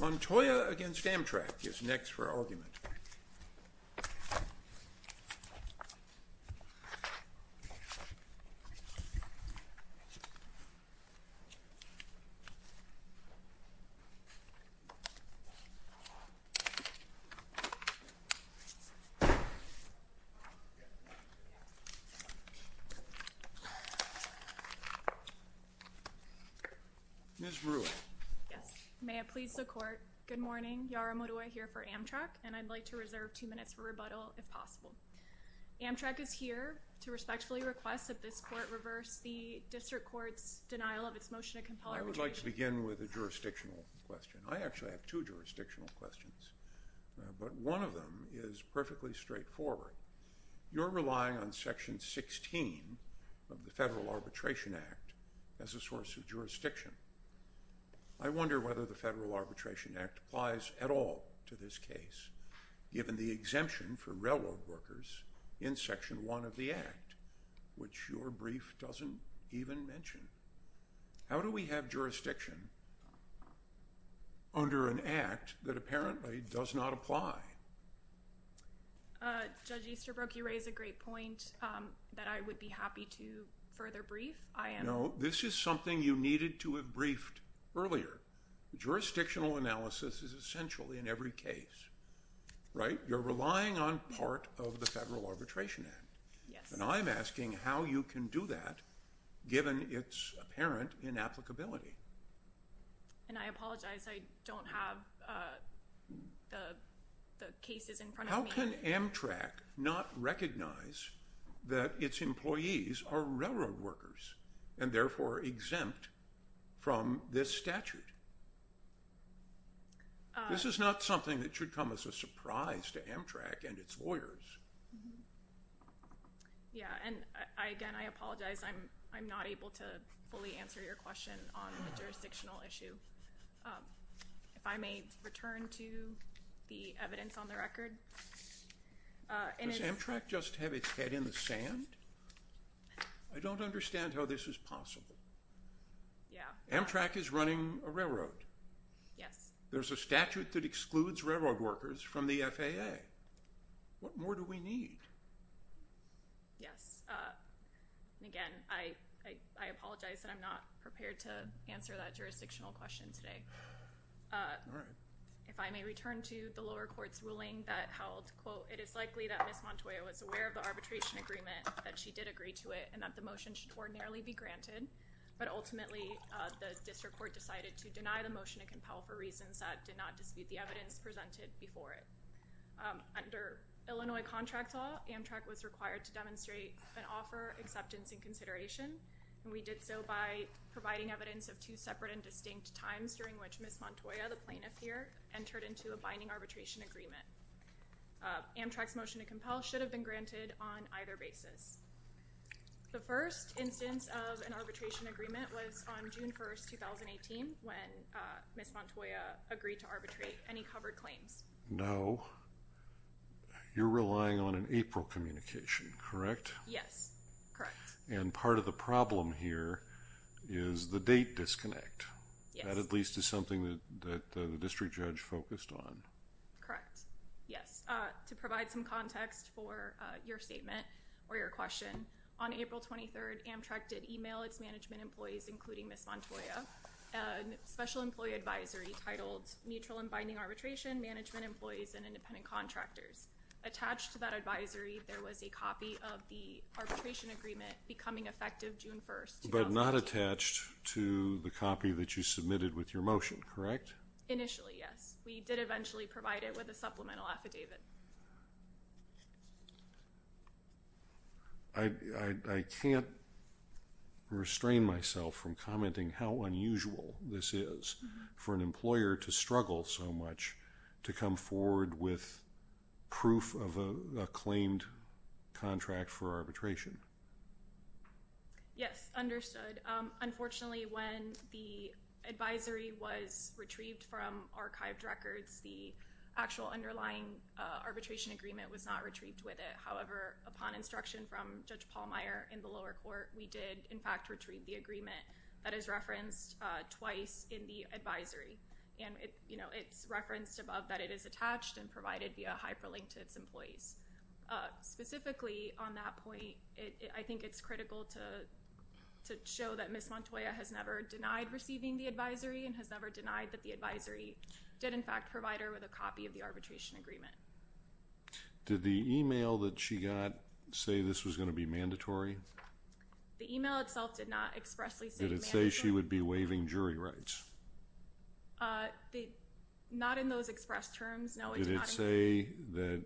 Montoya v. Amtrak is next for argument. Yes, may it please the court. Good morning, Yara Montoya here for Amtrak and I'd like to reserve two minutes for rebuttal if possible. Amtrak is here to respectfully request that this court reverse the district court's denial of its motion to compel arbitration. I would like to begin with a jurisdictional question. I actually have two jurisdictional questions, but one of them is perfectly straightforward. You're relying on Section 16 of the Federal Arbitration Act as a source of jurisdiction. I wonder whether the Federal Arbitration Act applies at all to this case, given the exemption for railroad workers in Section 1 of the Act, which your brief doesn't even mention. How do we have jurisdiction under an act that apparently does not apply? Judge Easterbrook, you raise a great point that I would be happy to further brief. No, this is something you needed to have briefed earlier. Jurisdictional analysis is essential in every case, right? You're relying on part of the Federal Arbitration Act. And I'm asking how you can do that, given its apparent inapplicability. And I apologize, I don't have the cases in front of me. How can Amtrak not recognize that its employees are railroad workers, and therefore exempt from this statute? This is not something that should come as a surprise to Amtrak and its lawyers. Yeah, and again, I apologize, I'm not able to fully answer your question on the jurisdictional issue. If I may return to the evidence on the record. Does Amtrak just have its head in the sand? I don't understand how this is possible. Amtrak is running a railroad. Yes. There's a statute that excludes railroad workers from the FAA. What more do we need? Yes. And again, I apologize that I'm not prepared to answer that jurisdictional question today. All right. If I may return to the lower court's ruling that held, quote, it is likely that Ms. Montoya was aware of the arbitration agreement, that she did agree to it, and that the motion should ordinarily be granted. But ultimately, the district court decided to deny the motion and compel for reasons that did not dispute the evidence presented before it. Under Illinois contract law, Amtrak was required to demonstrate and offer acceptance and consideration, and we did so by providing evidence of two separate and distinct times during which Ms. Montoya, the plaintiff here, entered into a binding arbitration agreement. Amtrak's motion to compel should have been granted on either basis. The first instance of an arbitration agreement was on June 1, 2018, when Ms. Montoya agreed to arbitrate any covered claims. No. You're relying on an April communication, correct? Yes. Correct. And part of the problem here is the date disconnect. Yes. That at least is something that the district judge focused on. Correct. Yes. Just to provide some context for your statement or your question, on April 23rd, Amtrak did email its management employees, including Ms. Montoya, a special employee advisory titled Mutual and Binding Arbitration, Management Employees, and Independent Contractors. Attached to that advisory, there was a copy of the arbitration agreement becoming effective June 1, 2018. But not attached to the copy that you submitted with your motion, correct? Initially, yes. We did eventually provide it with a supplemental affidavit. I can't restrain myself from commenting how unusual this is for an employer to struggle so much to come forward with proof of a claimed contract for arbitration. Yes. Understood. Unfortunately, when the advisory was retrieved from archived records, the actual underlying arbitration agreement was not retrieved with it. However, upon instruction from Judge Pallmeyer in the lower court, we did, in fact, retrieve the agreement that is referenced twice in the advisory. And it's referenced above that it is attached and provided via hyperlink to its employees. Specifically, on that point, I think it's critical to show that Ms. Montoya has never denied receiving the advisory and has never denied that the advisory did, in fact, provide her with a copy of the arbitration agreement. Did the email that she got say this was going to be mandatory? The email itself did not expressly say mandatory. Did it say she would be waiving jury rights? Not in those expressed terms, no. Did it say that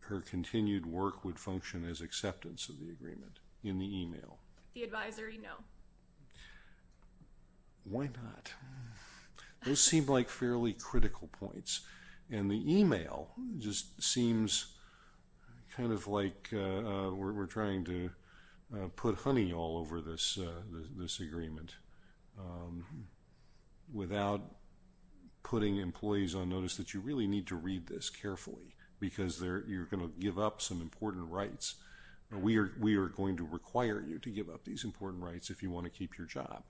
her continued work would function as acceptance of the agreement in the email? The advisory, no. Why not? Those seem like fairly critical points. And the email just seems kind of like we're trying to put honey all over this agreement without putting employees on notice that you really need to read this carefully because you're going to give up some important rights. We are going to require you to give up these important rights if you want to keep your job.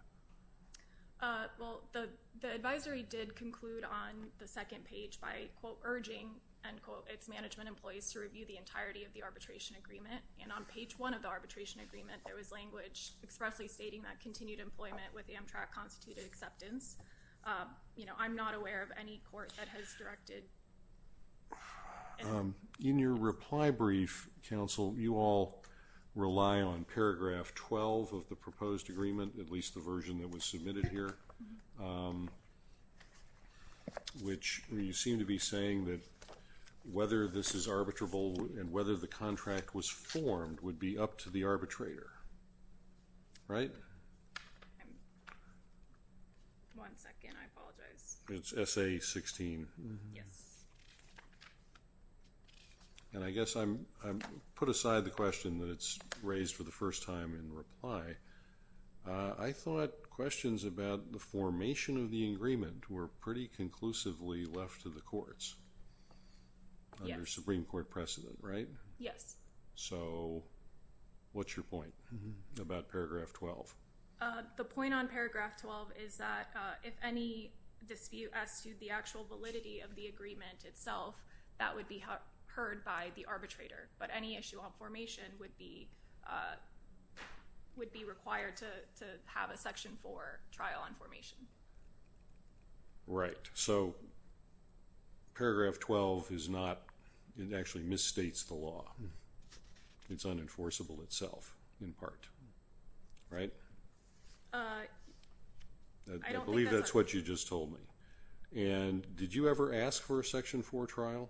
Well, the advisory did conclude on the second page by, quote, urging, end quote, its management employees to review the entirety of the arbitration agreement. And on page one of the arbitration agreement, there was language expressly stating that she had continued employment with Amtrak Constituted Acceptance. You know, I'm not aware of any court that has directed. In your reply brief, counsel, you all rely on paragraph 12 of the proposed agreement, at least the version that was submitted here, which you seem to be saying that whether this is arbitrable and whether the contract was formed would be up to the arbitrator. Right? One second. I apologize. It's essay 16. Yes. And I guess I put aside the question that it's raised for the first time in reply. I thought questions about the formation of the agreement were pretty conclusively left to the courts under Supreme Court precedent, right? Yes. So what's your point? About paragraph 12. The point on paragraph 12 is that if any dispute as to the actual validity of the agreement itself, that would be heard by the arbitrator. But any issue on formation would be required to have a section four trial on formation. Right. So paragraph 12 is not, it actually misstates the law. It's unenforceable itself, in part. Right? I believe that's what you just told me. And did you ever ask for a section four trial?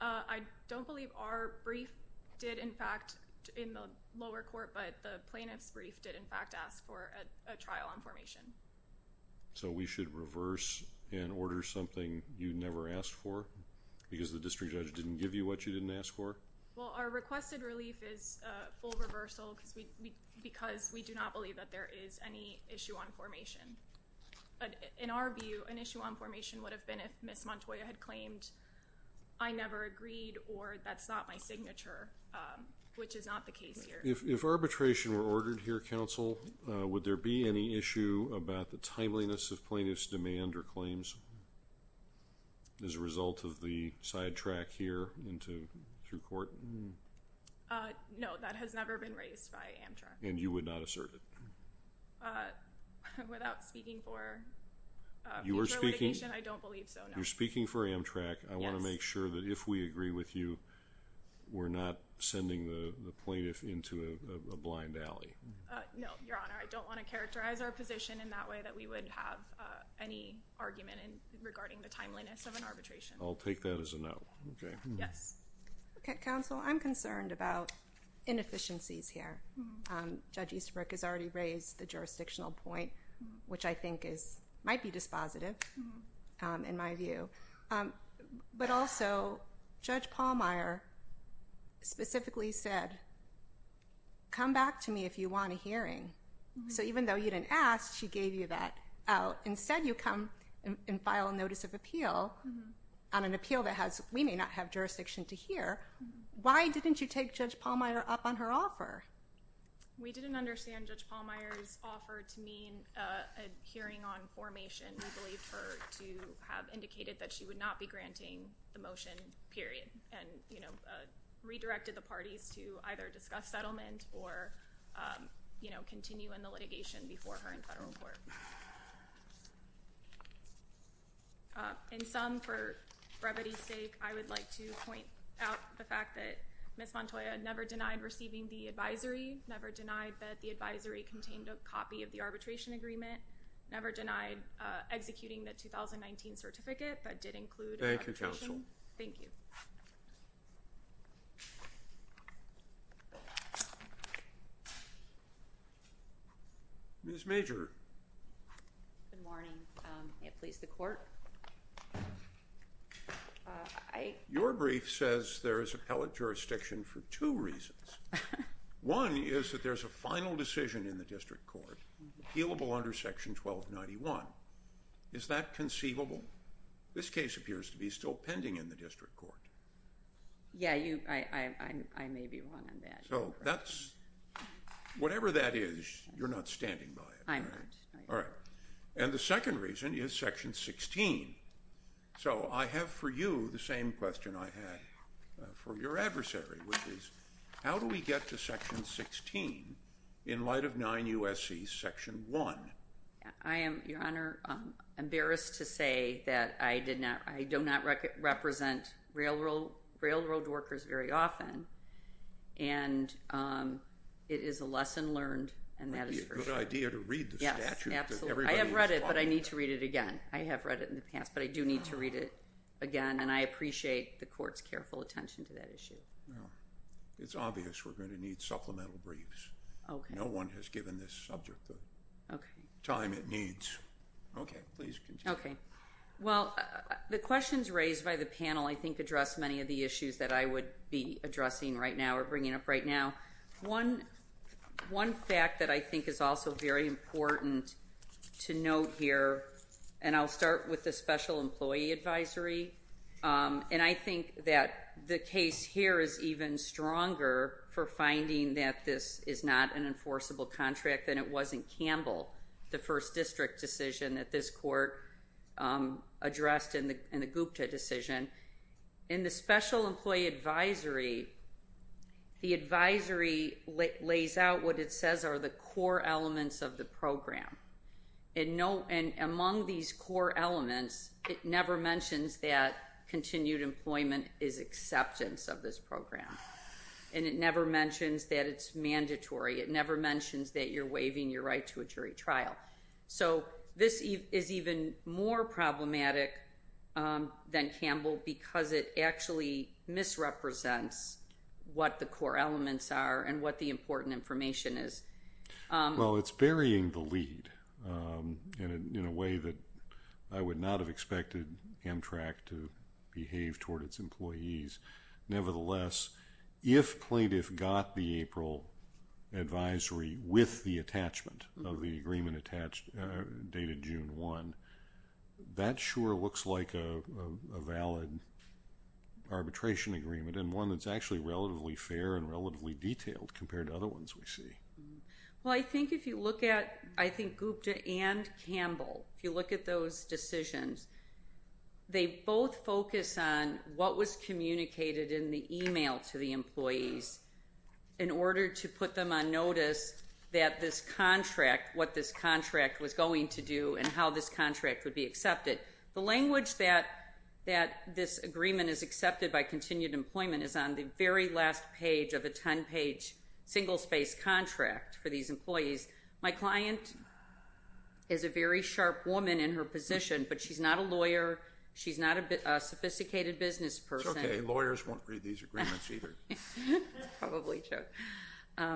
I don't believe our brief did, in fact, in the lower court, but the plaintiff's brief did, in fact, ask for a trial on formation. So we should reverse and order something you never asked for because the district judge didn't give you what you didn't ask for? Well, our requested relief is full reversal because we do not believe that there is any issue on formation. In our view, an issue on formation would have been if Ms. Montoya had claimed, I never agreed or that's not my signature, which is not the case here. If arbitration were ordered here, counsel, would there be any issue about the timeliness of plaintiff's demand or claims as a result of the sidetrack here through court? No, that has never been raised by Amtrak. And you would not assert it? Without speaking for litigation, I don't believe so, no. You're speaking for Amtrak. I want to make sure that if we agree with you, we're not sending the plaintiff into a blind alley. No, Your Honor. I don't want to characterize our position in that way that we would have any argument regarding the timeliness of an arbitration. I'll take that as a no. Yes. Counsel, I'm concerned about inefficiencies here. Judge Easterbrook has already raised the jurisdictional point, which I think might be dispositive in my view. But also, Judge Pallmeyer specifically said, come back to me if you want a hearing. So even though you didn't ask, she gave you that out. Instead, you come and file a notice of appeal on an appeal that we may not have jurisdiction to hear. Why didn't you take Judge Pallmeyer up on her offer? We didn't understand Judge Pallmeyer's offer to mean a hearing on formation. We believed her to have indicated that she would not be granting the motion, period, and redirected the parties to either discuss settlement or continue in the litigation before her in federal court. In sum, for brevity's sake, I would like to point out the fact that Ms. Montoya never denied receiving the advisory, never denied that the advisory contained a copy of the executing the 2019 certificate, but did include a representation. Thank you, counsel. Thank you. Ms. Major. Good morning. May it please the court. Your brief says there is appellate jurisdiction for two reasons. One is that there's a final decision in the district court, appealable under Section 1291. Is that conceivable? This case appears to be still pending in the district court. Yeah, you, I may be wrong on that. So, that's, whatever that is, you're not standing by it. I'm not. All right. And the second reason is Section 16. So, I have for you the same question I had for your adversary, which is, how do we get to Section 16 in light of 9 U.S.C. Section 1? I am, Your Honor, embarrassed to say that I did not, I do not represent railroad workers very often, and it is a lesson learned, and that is for sure. It would be a good idea to read the statute that everybody is talking about. I have read it, but I need to read it again. I have read it in the past, but I do need to read it again, and I appreciate the court's careful attention to that issue. Well, it's obvious we're going to need supplemental briefs. Okay. No one has given this subject the time it needs. Okay. Please continue. Well, the questions raised by the panel, I think, address many of the issues that I would be addressing right now or bringing up right now. One fact that I think is also very important to note here, and I'll start with the Special Employee Advisory, and I think that the case here is even stronger for finding that this is not an enforceable contract than it was in Campbell, the first district decision that this court addressed in the Gupta decision. In the Special Employee Advisory, the advisory lays out what it says are the core elements of the program, and among these core elements, it never mentions that continued employment is acceptance of this program. And it never mentions that it's mandatory. It never mentions that you're waiving your right to a jury trial. So, this is even more problematic than Campbell because it actually misrepresents what the core elements are and what the important information is. Well, it's burying the lead in a way that I would not have expected Amtrak to behave toward its employees. Nevertheless, if plaintiff got the April advisory with the attachment of the agreement attached dated June 1, that sure looks like a valid arbitration agreement and one that's actually relatively fair and relatively detailed compared to other ones we see. Well, I think if you look at, I think Gupta and Campbell, if you look at those decisions, they both focus on what was communicated in the email to the employees in order to put them on notice that this contract, what this contract was going to do and how this contract would be accepted. The language that this agreement is accepted by continued employment is on the very last page of a 10-page single-space contract for these employees. My client is a very sharp woman in her position, but she's not a lawyer. She's not a sophisticated business person. Lawyers won't read these agreements either. Probably true.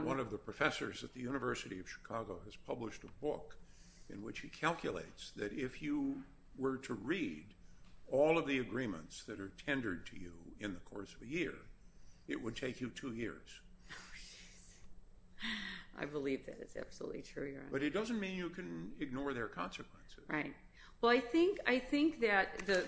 One of the professors at the University of Chicago has published a book in which he calculates that if you were to read all of the agreements that are tendered to you in the course of a year, it would take you two years. Oh, jeez. I believe that. It's absolutely true, Your Honor. But it doesn't mean you can ignore their consequences. Right. Well, I think that the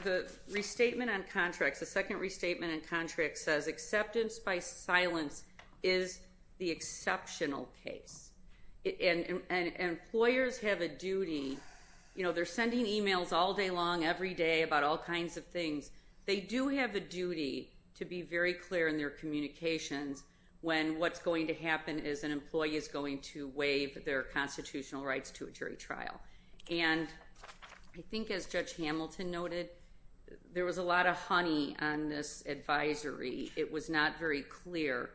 restatement on contracts, the second restatement on contracts says acceptance by silence is the exceptional case. And employers have a duty, you know, they're sending emails all day long every day about all kinds of things. They do have a duty to be very clear in their communications when what's going to happen is an employee is going to waive their constitutional rights to a jury trial. And I think as Judge Hamilton noted, there was a lot of honey on this advisory. It was not very clear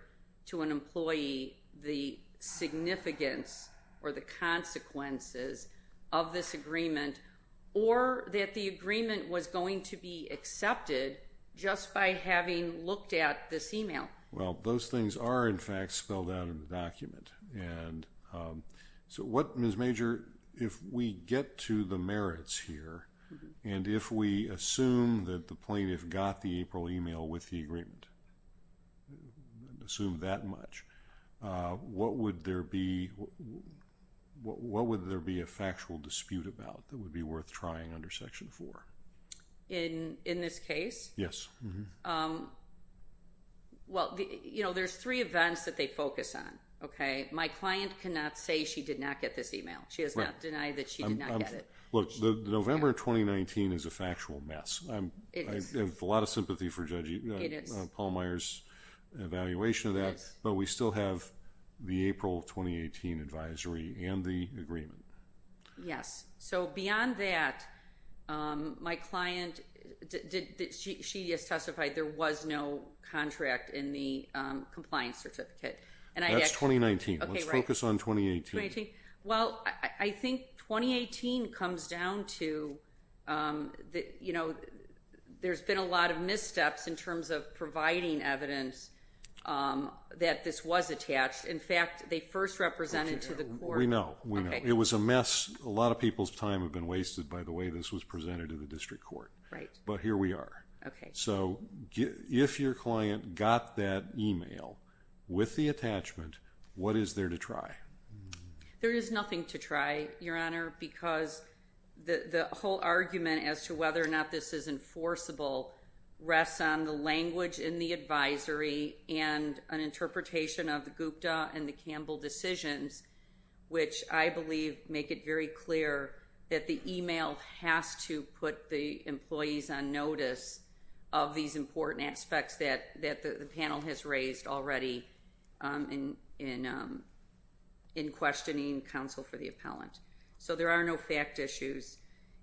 to an employee the significance or the consequences of this agreement or that the agreement was going to be accepted just by having looked at this email. Well, those things are, in fact, spelled out in the document. And so what, Ms. Major, if we get to the merits here and if we assume that the plaintiff got the April email with the agreement, assume that much, what would there be a factual dispute about that would be worth trying under Section 4? In this case? Yes. Well, you know, there's three events that they focus on, okay? My client cannot say she did not get this email. She does not deny that she did not get it. Look, November 2019 is a factual mess. It is. I have a lot of sympathy for Judge Palmire's evaluation of that. Yes. But we still have the April 2018 advisory and the agreement. Yes. So beyond that, my client, she just testified there was no contract in the compliance certificate. That's 2019. Let's focus on 2018. Well, I think 2018 comes down to, you know, there's been a lot of missteps in terms of providing evidence that this was attached. In fact, they first represented to the court. We know. It was a mess. A lot of people's time had been wasted by the way this was presented to the district court. Right. But here we are. Okay. So if your client got that email with the attachment, what is there to try? There is nothing to try, Your Honor, because the whole argument as to whether or not this is enforceable rests on the language in the advisory and an interpretation of the Gupta and the Campbell decisions, which I believe make it very clear that the email has to put the employees on notice of these important aspects that the panel has raised already in questioning counsel for the appellant. So there are no fact issues.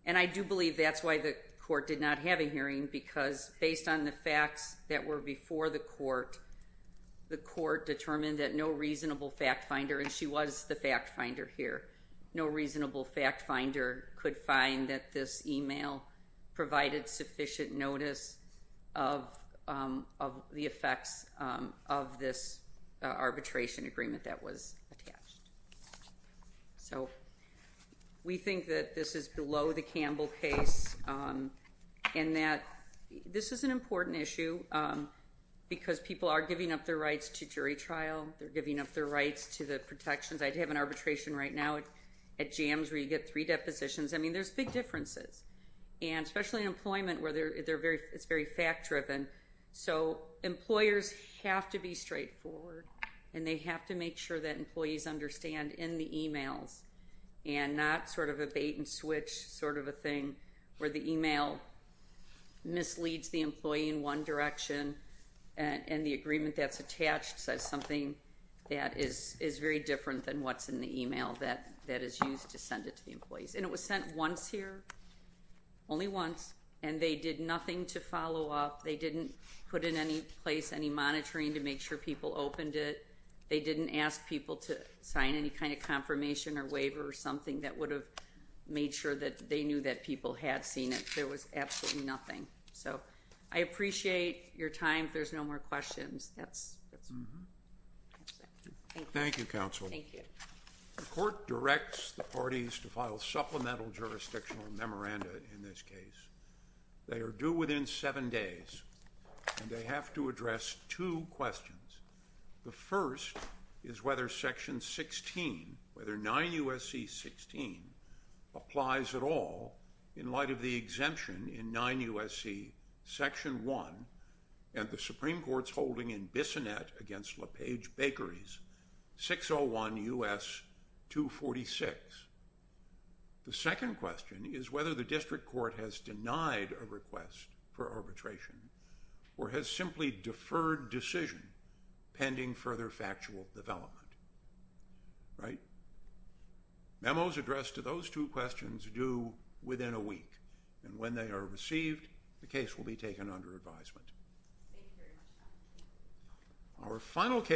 And I do believe that's why the court did not have a hearing, because based on the facts that were before the court, the court determined that no reasonable fact finder, and she was the fact finder here, no reasonable fact finder could find that this email provided sufficient notice of the effects of this arbitration agreement that was attached. So we think that this is below the Campbell case and that this is an important issue because people are giving up their rights to jury trial. They're giving up their rights to the protections. I'd have an arbitration right now at Jams where you get three depositions. I mean, there's big differences, and especially in employment where it's very fact-driven. So employers have to be straightforward, and they have to make sure that employees understand in the emails and not sort of a bait-and-switch sort of a thing where the email misleads the employee in one direction and the agreement that's attached says something that is very different than what's in the email that is used to send it to the employees. And it was sent once here, only once, and they did nothing to follow up. They didn't put in any place any monitoring to make sure people opened it. They didn't ask people to sign any kind of confirmation or waiver or something that would have made sure that they knew that people had seen it. There was absolutely nothing. So I appreciate your time. If there's no more questions, that's all. Thank you. Thank you, counsel. Thank you. The court directs the parties to file supplemental jurisdictional memoranda in this case. They are due within seven days, and they have to address two questions. The first is whether Section 16, whether 9 U.S.C. 16, applies at all in light of the exemption in 9 U.S.C. Section 1 and the Supreme Court's holding in Bissonette against LaPage Bakeries, 601 U.S. 246. The second question is whether the district court has denied a request for arbitration or has simply deferred decision pending further factual development. Memos addressed to those two questions are due within a week, and when they are received, the case will be taken under advisement. Thank you very much, counsel. Thank you.